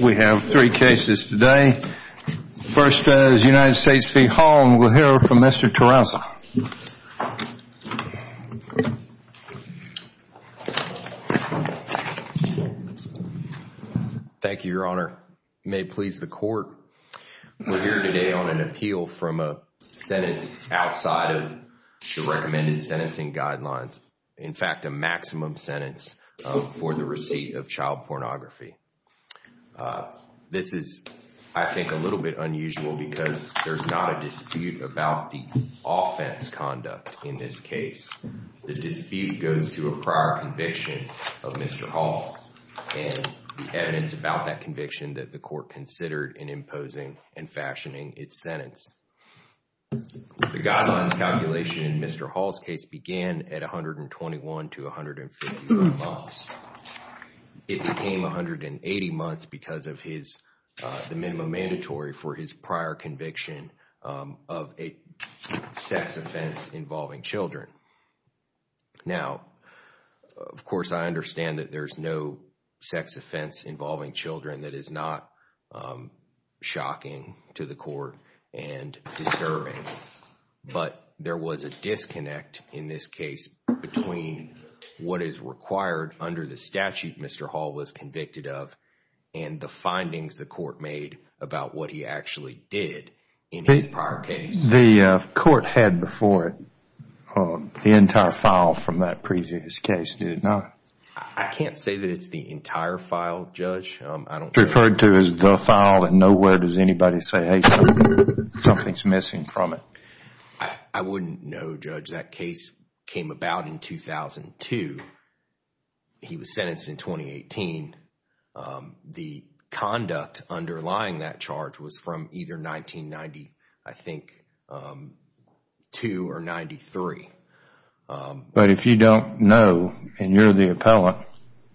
We have three cases today. First is United States v. Hall, and we'll hear from Mr. Terraza. Thank you, Your Honor. You may please the court. We're here today on an appeal from a sentence outside of the recommended sentencing guidelines, in fact, a maximum sentence for the receipt of child pornography. This is, I think, a little bit unusual because there's not a dispute about the offense conduct in this case. The dispute goes to a prior conviction of Mr. Hall and the evidence about that conviction that the court considered in imposing and fashioning its sentence. The guidelines calculation in Mr. Hall's case began at 121 to 151 months. It became 180 months because of the minimum mandatory for his prior conviction of a sex offense involving children. Now, of course, I understand that there's no sex offense involving children. That is not shocking to the court and disturbing, but there was a disconnect in this case between what is required under the statute Mr. Hall was convicted of and the findings the court made about what he actually did in his prior case. The court had before it the entire file from that previous case, did it not? I can't say that it's the entire file, Judge. Referred to as the file and nowhere does anybody say, hey, something's missing from it. I wouldn't know, Judge. That case came about in 2002. He was sentenced in 2018. The conduct underlying that charge was from either 1992 or 93. But if you don't know and you're the appellant, it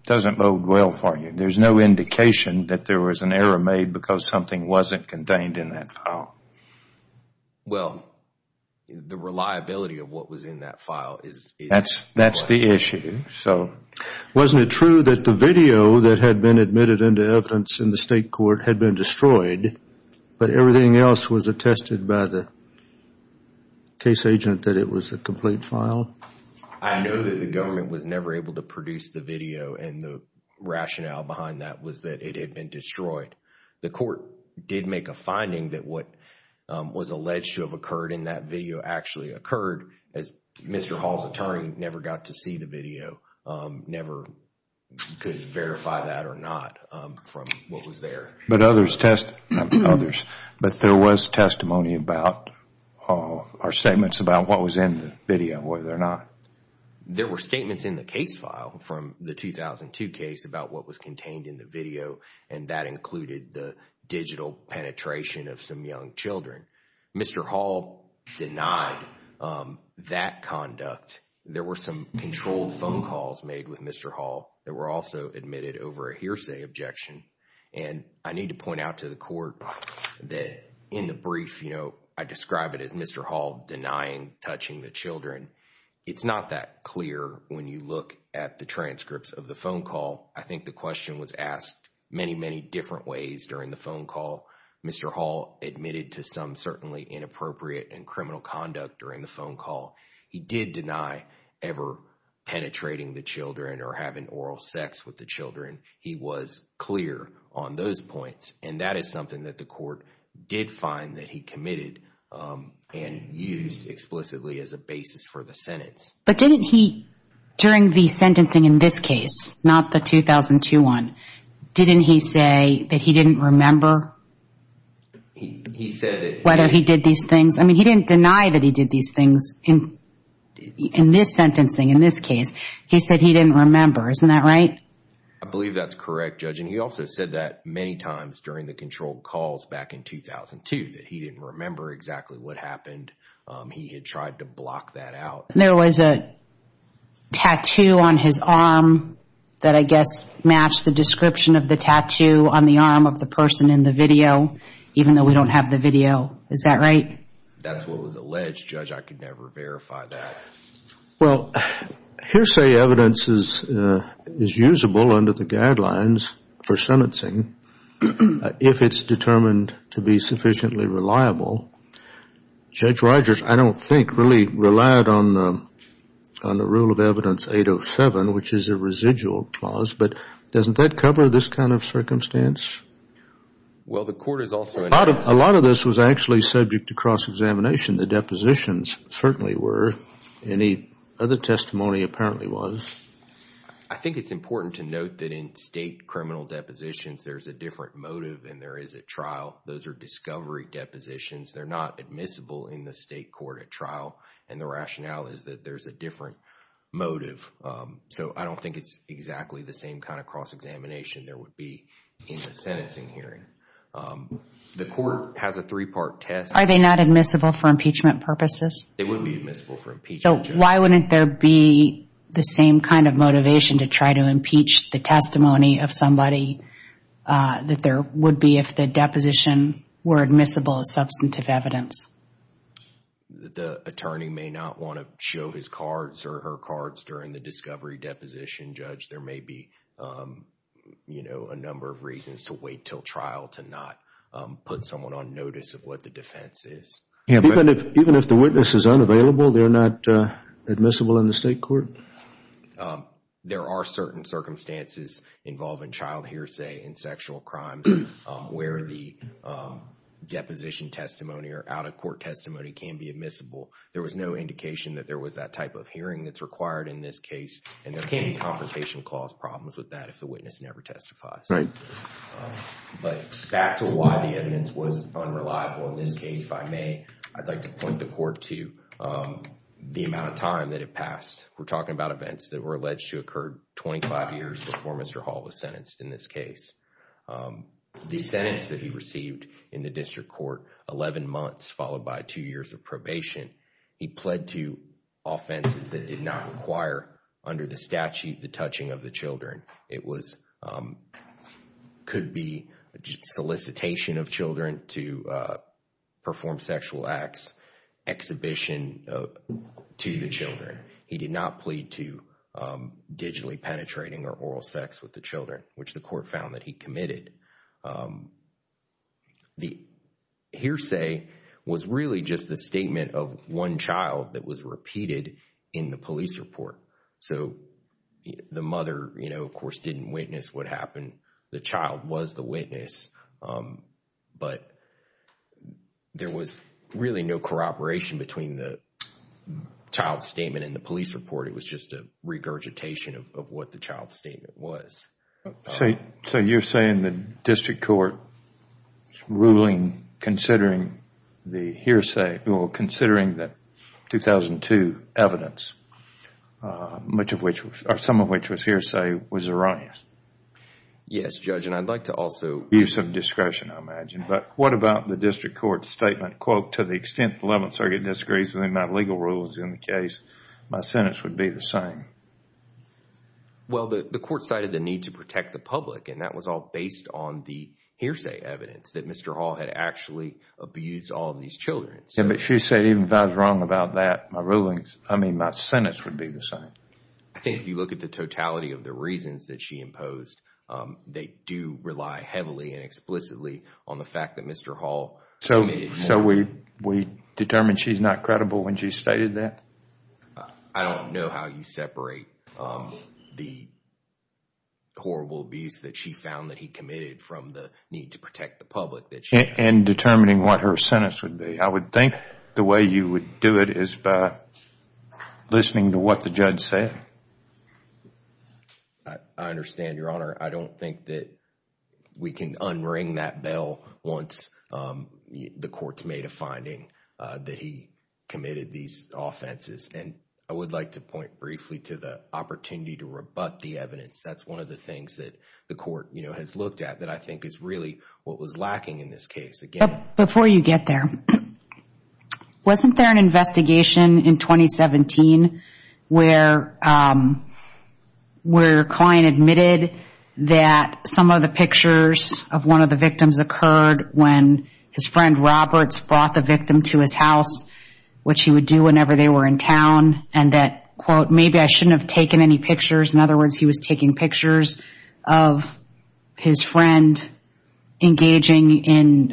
doesn't bode well for you. There's no indication that there was an error made because something wasn't contained in that file. Well, the reliability of what was in that file is... That's the issue. So wasn't it true that the video that had been admitted into evidence in the state court had been destroyed, but everything else was attested by the case agent that it was a complete file? I know that the government was never able to produce the video and the rationale behind that was that it had been destroyed. The court did make a finding that what was alleged to have occurred in that video actually occurred. As Mr. Hall's attorney never got to see the video, never could verify that or not from what was there. But others test... Others. But there was testimony about or statements about what was in the video, whether or not... There were statements in the case file from the 2002 case about what was contained in the video. And that included the digital penetration of some young children. Mr. Hall denied that conduct. There were some controlled phone calls made with Mr. Hall that were also admitted over a hearsay objection. And I need to point out to the court that in the brief, you know, I describe it as Mr. Hall denying touching the children. It's not that clear when you look at the transcripts of the phone call. I think the question was asked many, many different ways during the phone call. Mr. Hall admitted to some certainly inappropriate and criminal conduct during the phone call. He did deny ever penetrating the children or having oral sex with the children. He was clear on those points. And that is something that the court did find that he committed and used explicitly as a basis for the sentence. But didn't he, during the sentencing in this case, not the 2002 one, didn't he say that he didn't remember? He said that... Whether he did these things. I mean, he didn't deny that he did these things in this sentencing, in this case. He said he didn't remember. Isn't that right? I believe that's correct, Judge. And he also said that many times during the controlled calls back in 2002, that he didn't remember exactly what happened. He had tried to block that out. There was a tattoo on his arm that I guess matched the description of the tattoo on the arm of the person in the video, even though we don't have the video. Is that right? That's what was alleged, Judge. I could never verify that. Well, hearsay evidence is usable under the guidelines for sentencing if it's determined to be sufficiently reliable. Judge Rogers, I don't think, really relied on the rule of evidence 807, which is a residual clause. But doesn't that cover this kind of circumstance? Well, the court is also... A lot of this was actually subject to cross-examination. The depositions certainly were. Any other testimony apparently was. I think it's important to note that in state criminal depositions, there's a different motive than there is at trial. Those are discovery depositions. They're not admissible in the state court at trial. And the rationale is that there's a different motive. So I don't think it's exactly the same kind of cross-examination there would be in the sentencing hearing. The court has a three-part test. Are they not admissible for impeachment purposes? They would be admissible for impeachment, Judge. So why wouldn't there be the same kind of motivation to try to impeach the testimony of somebody that there would be if the deposition were admissible as substantive evidence? The attorney may not want to show his cards or her cards during the discovery deposition, Judge. There may be, you know, a number of reasons to wait till trial to not put someone on notice of what the defense is. Even if the witness is unavailable, they're not admissible in the state court? There are certain circumstances involving child hearsay in sexual crimes where the deposition testimony or out-of-court testimony can be admissible. There was no indication that there was that type of hearing that's required in this case. And there can't be confrontation clause problems with that if the witness never testifies. Right. But back to why the evidence was unreliable in this case, if I may, I'd like to point the court to the amount of time that it passed. We're talking about events that were alleged to occur 25 years before Mr. Hall was sentenced in this case. The sentence that he received in the district court, 11 months followed by two years of probation, he pled to offenses that did not require under the statute the touching of the children. It could be solicitation of children to perform sexual acts, exhibition to the children. He did not plead to digitally penetrating or oral sex with the children, which the court found that he committed. The hearsay was really just the statement of one child that was repeated in the police report. So the mother, you know, of course, didn't witness what happened. The child was the witness, but there was really no corroboration between the child's statement and the police report. It was just a regurgitation of what the child's statement was. So you're saying the district court's ruling considering the hearsay, well, considering the 2002 evidence, some of which was hearsay, was erroneous? Yes, Judge, and I'd like to also... Use of discretion, I imagine, but what about the district court's statement, quote, to the extent the 11th Circuit disagrees with the amount of legal rules in the case, my sentence would be the same? Well, the court cited the need to protect the public, and that was all based on the hearsay evidence that Mr. Hall had actually abused all of these children. But she said even if I was wrong about that, my rulings, I mean, my sentence would be the same. I think if you look at the totality of the reasons that she imposed, they do rely heavily and explicitly on the fact that Mr. Hall committed more... So we determine she's not credible when she stated that? I don't know how you separate the horrible abuse that she found that he committed from the need to protect the public that she... And determining what her sentence would be. I would think the way you would do it is by listening to what the judge said. I understand, Your Honor. I don't think that we can unring that bell once the court's made a finding that he committed these offenses. And I would like to point briefly to the opportunity to rebut the evidence. That's one of the things that the court, you know, has looked at that I think is really what was lacking in this case. Before you get there, wasn't there an investigation in 2017 where a client admitted that some of the pictures of one of the victims occurred when his friend Roberts brought the victim to his house, which he would do whenever they were in town, and that, quote, maybe I shouldn't have taken any pictures. In other words, he was taking pictures of his friend engaging in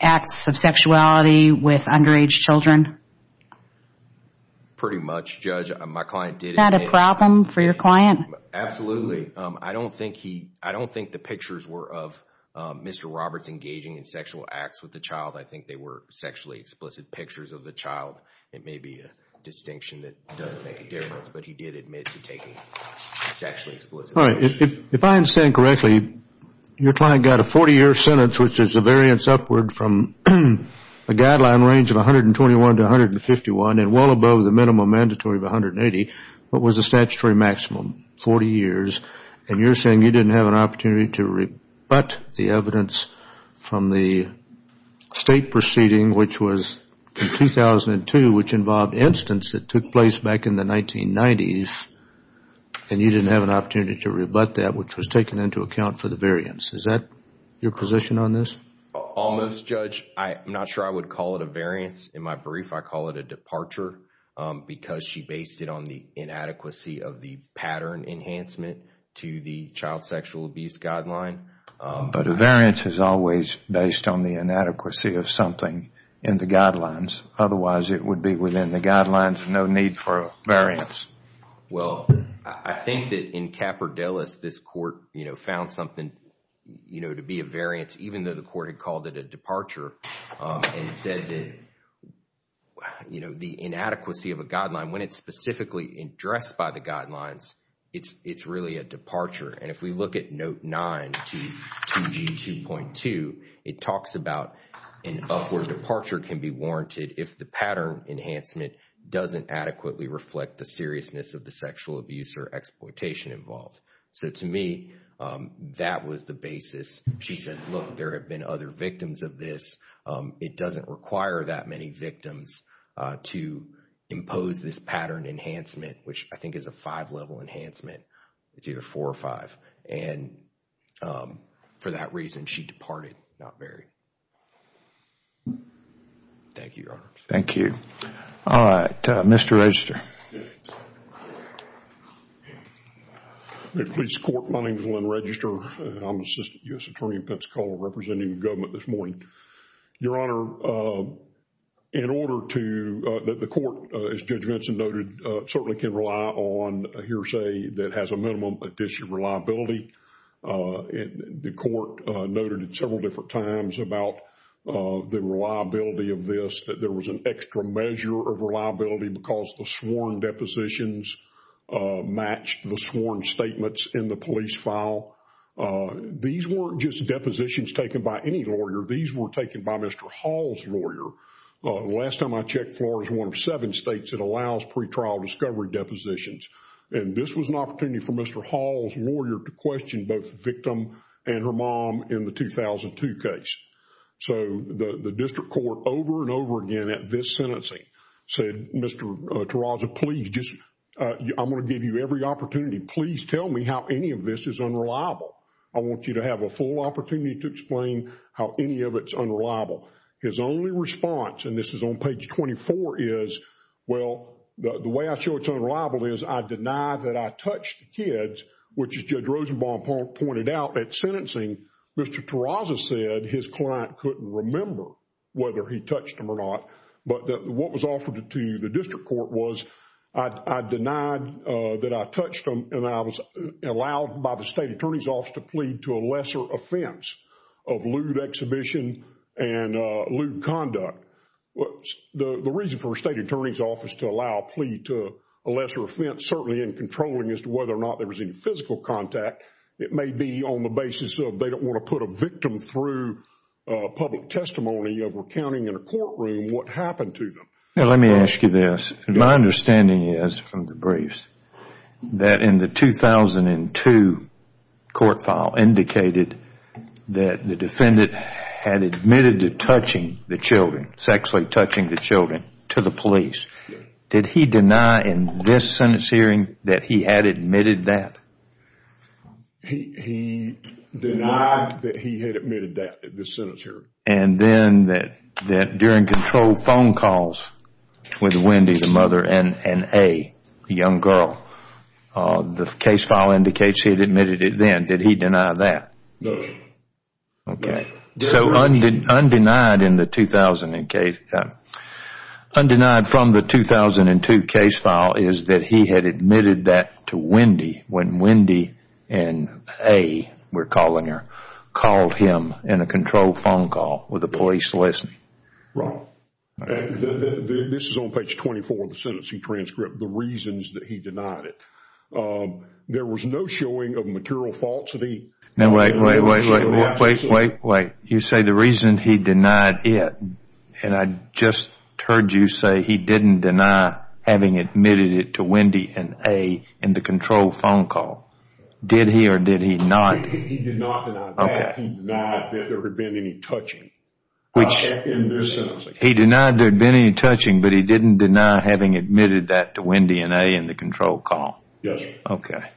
acts of sexuality with underage children. Pretty much, Judge. My client did admit... Not a problem for your client? Absolutely. I don't think the pictures were of Mr. Roberts engaging in sexual acts with the child. I think they were sexually explicit pictures of the child. It may be a distinction that doesn't make a difference, but he did admit to taking sexually explicit pictures. All right. If I understand correctly, your client got a 40-year sentence, which is a variance upward from a guideline range of 121 to 151, and well above the minimum mandatory of 180, what was the statutory maximum, 40 years, and you're saying you didn't have an opportunity to rebut the evidence from the state proceeding, which was in 2002, which involved incidents that took place back in the 1990s, and you didn't have an opportunity to rebut that, which was taken into account for the variance. Is that your position on this? Almost, Judge. I'm not sure I would call it a variance. In my brief, I call it a departure because she based it on the inadequacy of the pattern enhancement to the child sexual abuse guideline. But a variance is always based on the inadequacy of something in the guidelines. Otherwise, it would be within the guidelines. No need for a variance. Well, I think that in Capra Delis, this court found something to be a variance, even though the court had called it a departure and said that the inadequacy of a guideline, when it's specifically addressed by the guidelines, it's really a departure. And if we look at Note 9, 2G2.2, it talks about an upward departure can be warranted if the pattern enhancement doesn't adequately reflect the seriousness of the sexual abuse or exploitation involved. So to me, that was the basis. She said, look, there have been other victims of this. It doesn't require that many victims to impose this pattern enhancement, which I think is a five-level enhancement. It's either four or five. And for that reason, she departed, not buried. Thank you, Your Honor. Thank you. All right. Mr. Register. Yes. Please, court. My name is Lynn Register. I'm Assistant U.S. Attorney in Pensacola representing the government this morning. Your Honor, in order to, the court, as Judge Vinson noted, certainly can rely on a hearsay that has a minimum addition of reliability. The court noted it several different times about the reliability of this, that there was an extra measure of reliability because the sworn depositions matched the sworn statements in the police file. These weren't just depositions taken by any lawyer. These were taken by Mr. Hall's lawyer. The last time I checked, Florida is one of seven states that allows pretrial discovery depositions. And this was an opportunity for Mr. Hall's lawyer to question both the victim and her mom in the 2002 case. So, the district court over and over again at this sentencing said, Mr. Terraza, please just, I'm going to give you every opportunity. Please tell me how any of this is unreliable. I want you to have a full opportunity to explain how any of it's unreliable. His only response, and this is on page 24, is, well, the way I show it's unreliable is I deny that I touched the kids, which as Judge Rosenbaum pointed out at sentencing, Mr. Terraza said his client couldn't remember whether he touched them or not. But what was offered to the district court was I denied that I touched them and I was allowed by the state attorney's office to plead to a lesser offense of lewd exhibition and lewd conduct. The reason for the state attorney's office to allow a plea to a lesser offense, certainly in controlling as to whether or not there was any physical contact, it may be on the basis of they don't want to put a victim through public testimony of recounting in a courtroom what happened to them. Now, let me ask you this. My understanding is from the briefs that in the 2002 court file indicated that the defendant had admitted to touching the children, sexually touching the children, to the police. Did he deny in this sentence hearing that he had admitted that? He denied that he had admitted that at this sentence hearing. And then that during control phone calls with Wendy, the mother, and A, the young girl, the case file indicates he had admitted it then. Did he deny that? No, sir. Okay. So undenied from the 2002 case file is that he had admitted that to Wendy when Wendy and A, we're calling her, called him in a control phone call with the police listening. Right. This is on page 24 of the sentencing transcript, the reasons that he denied it. There was no showing of material faults that he had. Now, wait, wait, wait, wait, wait, wait, wait. You say the reason he denied it, and I just heard you say he didn't deny having admitted it to Wendy and A in the control phone call. Did he or did he not? He did not deny that. He denied that there had been any touching in this sentence. He denied there had been any touching, but he didn't deny having admitted that to Wendy and A in the control call. Yes, sir. Okay.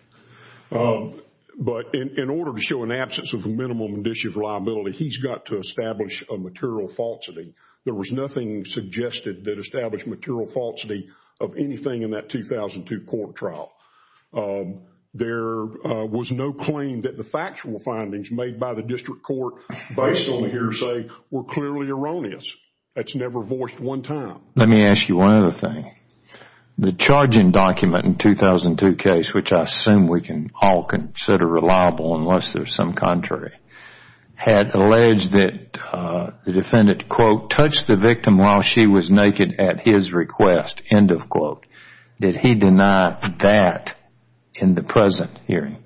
But in order to show an absence of a minimum condition of liability, he's got to establish a material falsity. There was nothing suggested that established material falsity of anything in that 2002 court trial. There was no claim that the factual findings made by the district court based on the hearsay were clearly erroneous. That's never voiced one time. Let me ask you one other thing. The charging document in the 2002 case, which I assume we can all consider reliable unless there's some contrary, had alleged that the defendant, quote, touched the victim while she was naked at his request, end of quote. Did he deny that in the present hearing?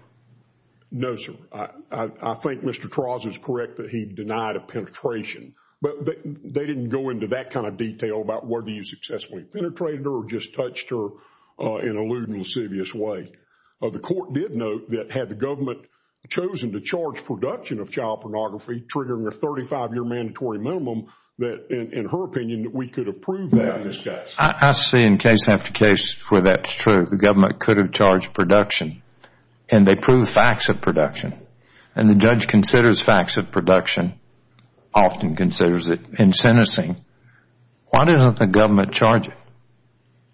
No, sir. I think Mr. Traws is correct that he denied a penetration, but they didn't go into that kind of detail about whether you successfully penetrated her or just touched her in a lewd and lascivious way. The court did note that had the government chosen to charge production of child pornography, triggering a 35-year mandatory minimum, that in her opinion we could have proved that in this case. I see in case after case where that's true. The government could have charged production, and they proved facts of production, and the judge considers facts of production, often considers it in sentencing. Why doesn't the government charge it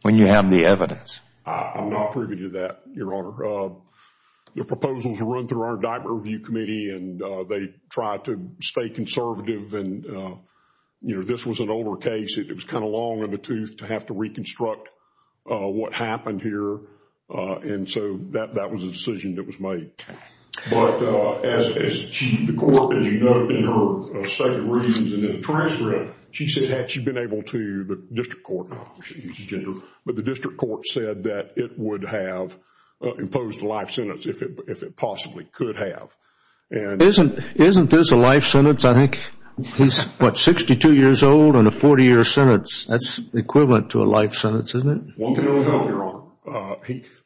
when you have the evidence? I'm not privy to that, Your Honor. The proposals run through our indictment review committee, and they try to stay conservative. This was an older case. It was kind of long in the tooth to have to reconstruct what happened here, and so that was a decision that was made. Okay. But the court, as you note in her second reasons and in the transcript, she said that she'd been able to, the district court, but the district court said that it would have imposed a life sentence if it possibly could have. Isn't this a life sentence? I think he's, what, 62 years old and a 40-year sentence. That's equivalent to a life sentence, isn't it? One can only hope, Your Honor.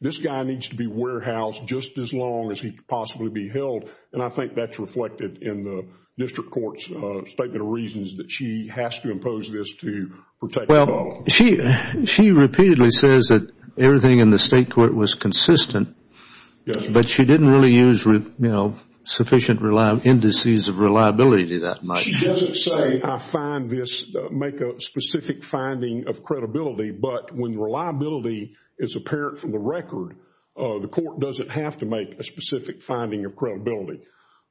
This guy needs to be warehoused just as long as he can possibly be held, and I think that's reflected in the district court's statement of reasons that she has to impose this to protect the fellow. Well, she repeatedly says that everything in the state court was consistent, but she didn't really use sufficient indices of reliability that much. She doesn't say, I find this, make a specific finding of credibility, but when reliability is apparent from the record, the court doesn't have to make a specific finding of credibility.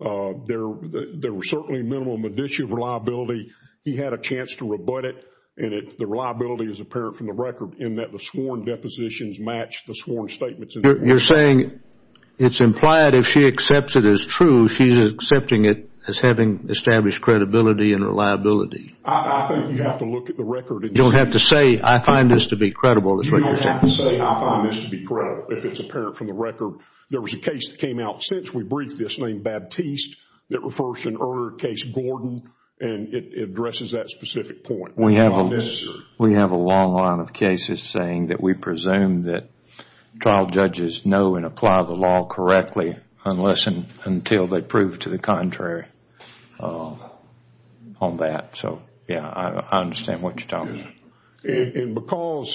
There were certainly minimum indicia of reliability. He had a chance to rebut it, and the reliability is apparent from the record in that the sworn depositions match the sworn statements. You're saying it's implied if she accepts it as true, she's accepting it as having established credibility and reliability. I think you have to look at the record. You don't have to say, I find this to be credible. You don't have to say, I find this to be credible if it's apparent from the record. There was a case that came out since we briefed this named Baptiste that refers to an earlier case, Gordon, and it addresses that specific point. We have a long line of cases saying that we presume that trial judges know and apply the law correctly unless and until they prove to the contrary on that. I understand what you're talking about. Because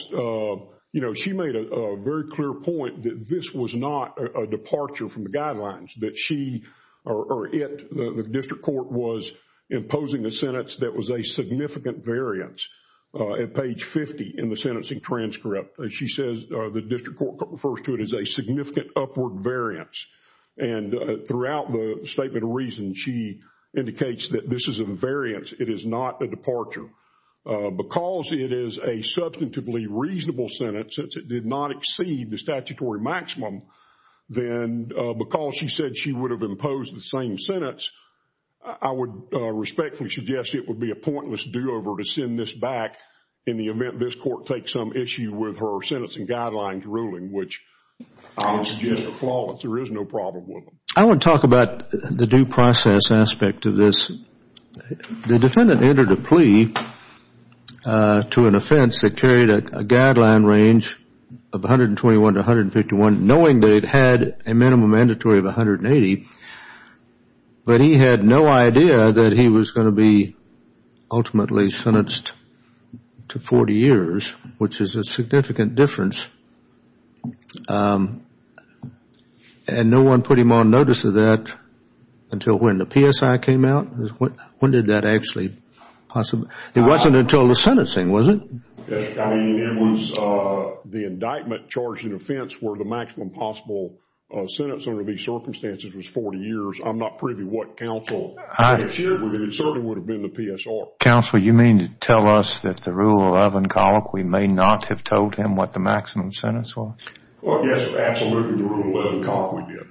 she made a very clear point that this was not a departure from the guidelines, that she or it, the district court was imposing a sentence that was a significant variance at page 50 in the sentencing transcript. She says the district court refers to it as a significant upward variance. Throughout the statement of reasons, she indicates that this is a variance. It is not a departure. Because it is a substantively reasonable sentence, since it did not exceed the statutory maximum, then because she said she would have imposed the same sentence, I would respectfully suggest it would be a pointless do-over to send this back in the event this court takes some issue with her sentencing guidelines ruling, which I would suggest are flawless. There is no problem with them. I want to talk about the due process aspect of this. The defendant entered a plea to an offense that carried a guideline range of 121 to 151, knowing that it had a minimum mandatory of 180, but he had no idea that he was going to be ultimately sentenced to 40 years, which is a significant difference. And no one put him on notice of that until when the PSI came out? When did that actually possibly come out? It wasn't until the sentencing, was it? It was the indictment charged in offense where the maximum possible sentence under these circumstances was 40 years. I'm not privy to what counsel shared with me. It certainly would have been the PSR. Counsel, you mean to tell us that the rule 11, the rule 11 colloquy may not have told him what the maximum sentence was? Yes, absolutely, the rule 11 colloquy did.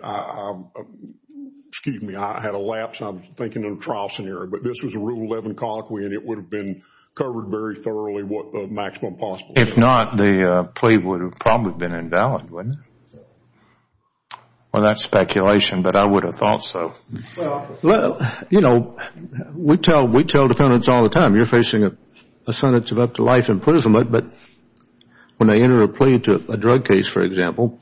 Excuse me, I had a lapse. I'm thinking of a trial scenario. But this was a rule 11 colloquy, and it would have been covered very thoroughly what the maximum possible sentence was. If not, the plea would have probably been invalid, wouldn't it? Well, that's speculation, but I would have thought so. Well, you know, we tell defendants all the time, you're facing a sentence of up to life imprisonment, but when they enter a plea to a drug case, for example,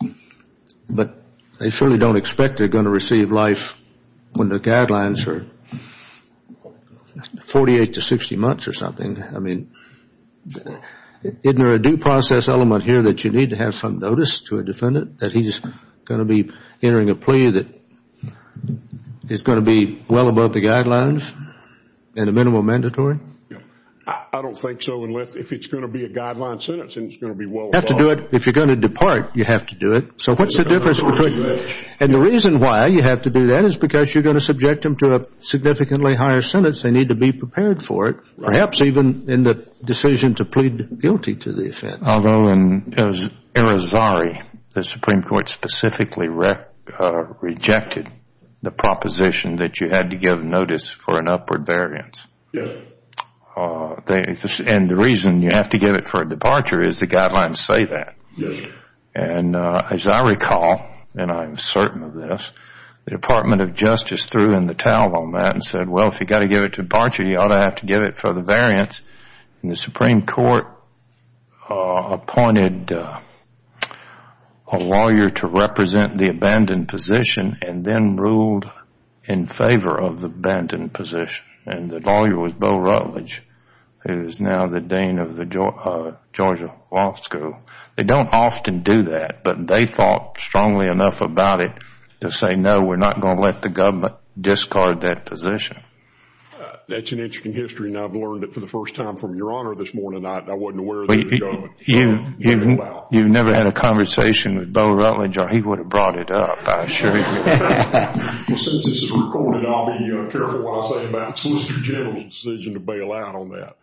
but they certainly don't expect they're going to receive life when the guidelines are 48 to 60 months or something. I mean, isn't there a due process element here that you need to have some notice to a defendant that he's going to be entering a plea that is going to be well above the guidelines and a minimum mandatory? I don't think so unless if it's going to be a guideline sentence and it's going to be well above. You have to do it. If you're going to depart, you have to do it. So what's the difference between that? And the reason why you have to do that is because you're going to subject them to a significantly higher sentence. They need to be prepared for it, perhaps even in the decision to plead guilty to the offense. Although in Arizari, the Supreme Court specifically rejected the proposition that you had to give notice for an upward variance. Yes. And the reason you have to give it for a departure is the guidelines say that. Yes. And as I recall, and I'm certain of this, the Department of Justice threw in the towel on that and said, well, if you've got to give it to departure, you ought to have to give it for the variance. And the Supreme Court appointed a lawyer to represent the abandoned position and then ruled in favor of the abandoned position. And the lawyer was Bill Rutledge, who is now the dean of the Georgia Law School. They don't often do that, but they thought strongly enough about it to say, no, we're not going to let the government discard that position. That's an interesting history, and I've learned it for the first time from Your Honor this morning. I wasn't aware of it. You've never had a conversation with Bill Rutledge, or he would have brought it up. I assure you. Since this is recorded, I'll be careful what I say about the Solicitor General's decision to bail out on that.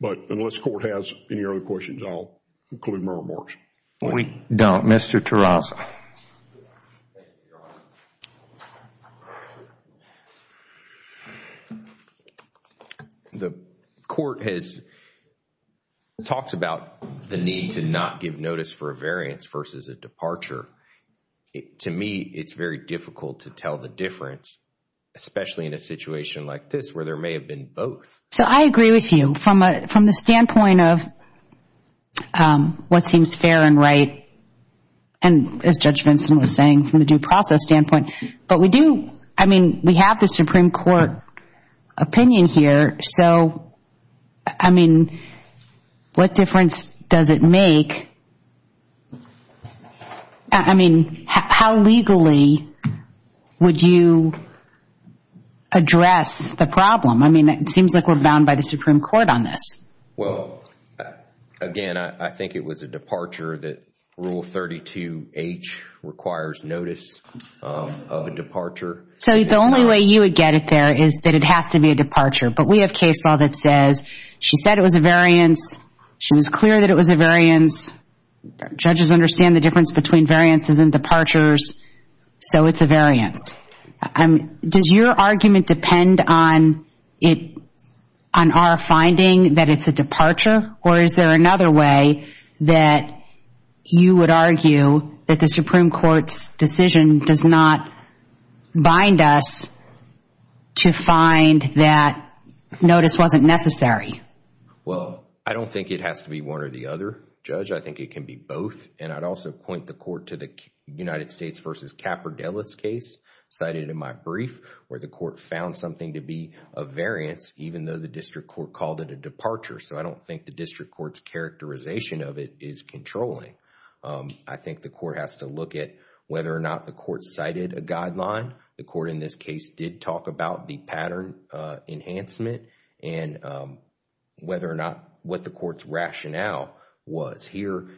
But unless the Court has any other questions, I'll conclude my remarks. We don't. Mr. Tarasa. The Court has talked about the need to not give notice for a variance versus a departure. To me, it's very difficult to tell the difference, especially in a situation like this where there may have been both. So I agree with you from the standpoint of what seems fair and right, and as Judge Vinson was saying, from the due process standpoint. But we do, I mean, we have the Supreme Court opinion here. So, I mean, what difference does it make? I mean, how legally would you address the problem? I mean, it seems like we're bound by the Supreme Court on this. Well, again, I think it was a departure that Rule 32H requires notice of a departure. So the only way you would get it there is that it has to be a departure. But we have case law that says she said it was a variance. She was clear that it was a variance. Judges understand the difference between variances and departures, so it's a variance. Does your argument depend on our finding that it's a departure? Or is there another way that you would argue that the Supreme Court's decision does not bind us to find that notice wasn't necessary? Well, I don't think it has to be one or the other, Judge. I think it can be both. And I'd also point the court to the United States v. Capordellas case cited in my brief, where the court found something to be a variance even though the district court called it a departure. So I don't think the district court's characterization of it is controlling. I think the court has to look at whether or not the court cited a guideline. The court in this case did talk about the pattern enhancement and whether or not what the court's rationale was. Here,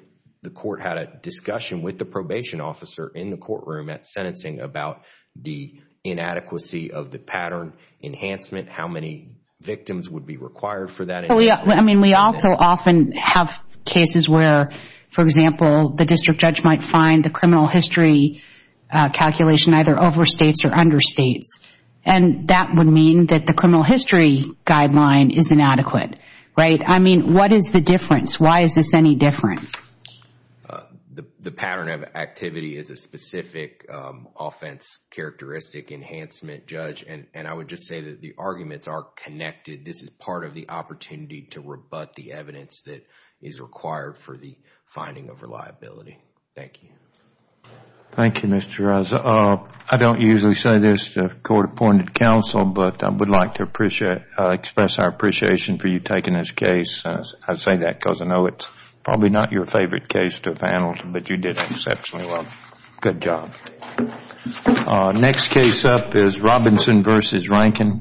the court had a discussion with the probation officer in the courtroom at sentencing about the inadequacy of the pattern enhancement, how many victims would be required for that enhancement. I mean, we also often have cases where, for example, the district judge might find the criminal history calculation either overstates or understates. And that would mean that the criminal history guideline is inadequate, right? I mean, what is the difference? Why is this any different? The pattern of activity is a specific offense characteristic enhancement, Judge. And I would just say that the arguments are connected. This is part of the opportunity to rebut the evidence that is required for the finding of reliability. Thank you. Thank you, Mr. Reza. I don't usually say this to court-appointed counsel, but I would like to express our appreciation for you taking this case. I say that because I know it's probably not your favorite case to have handled, but you did exceptionally well. Good job. Next case up is Robinson v. Rankin.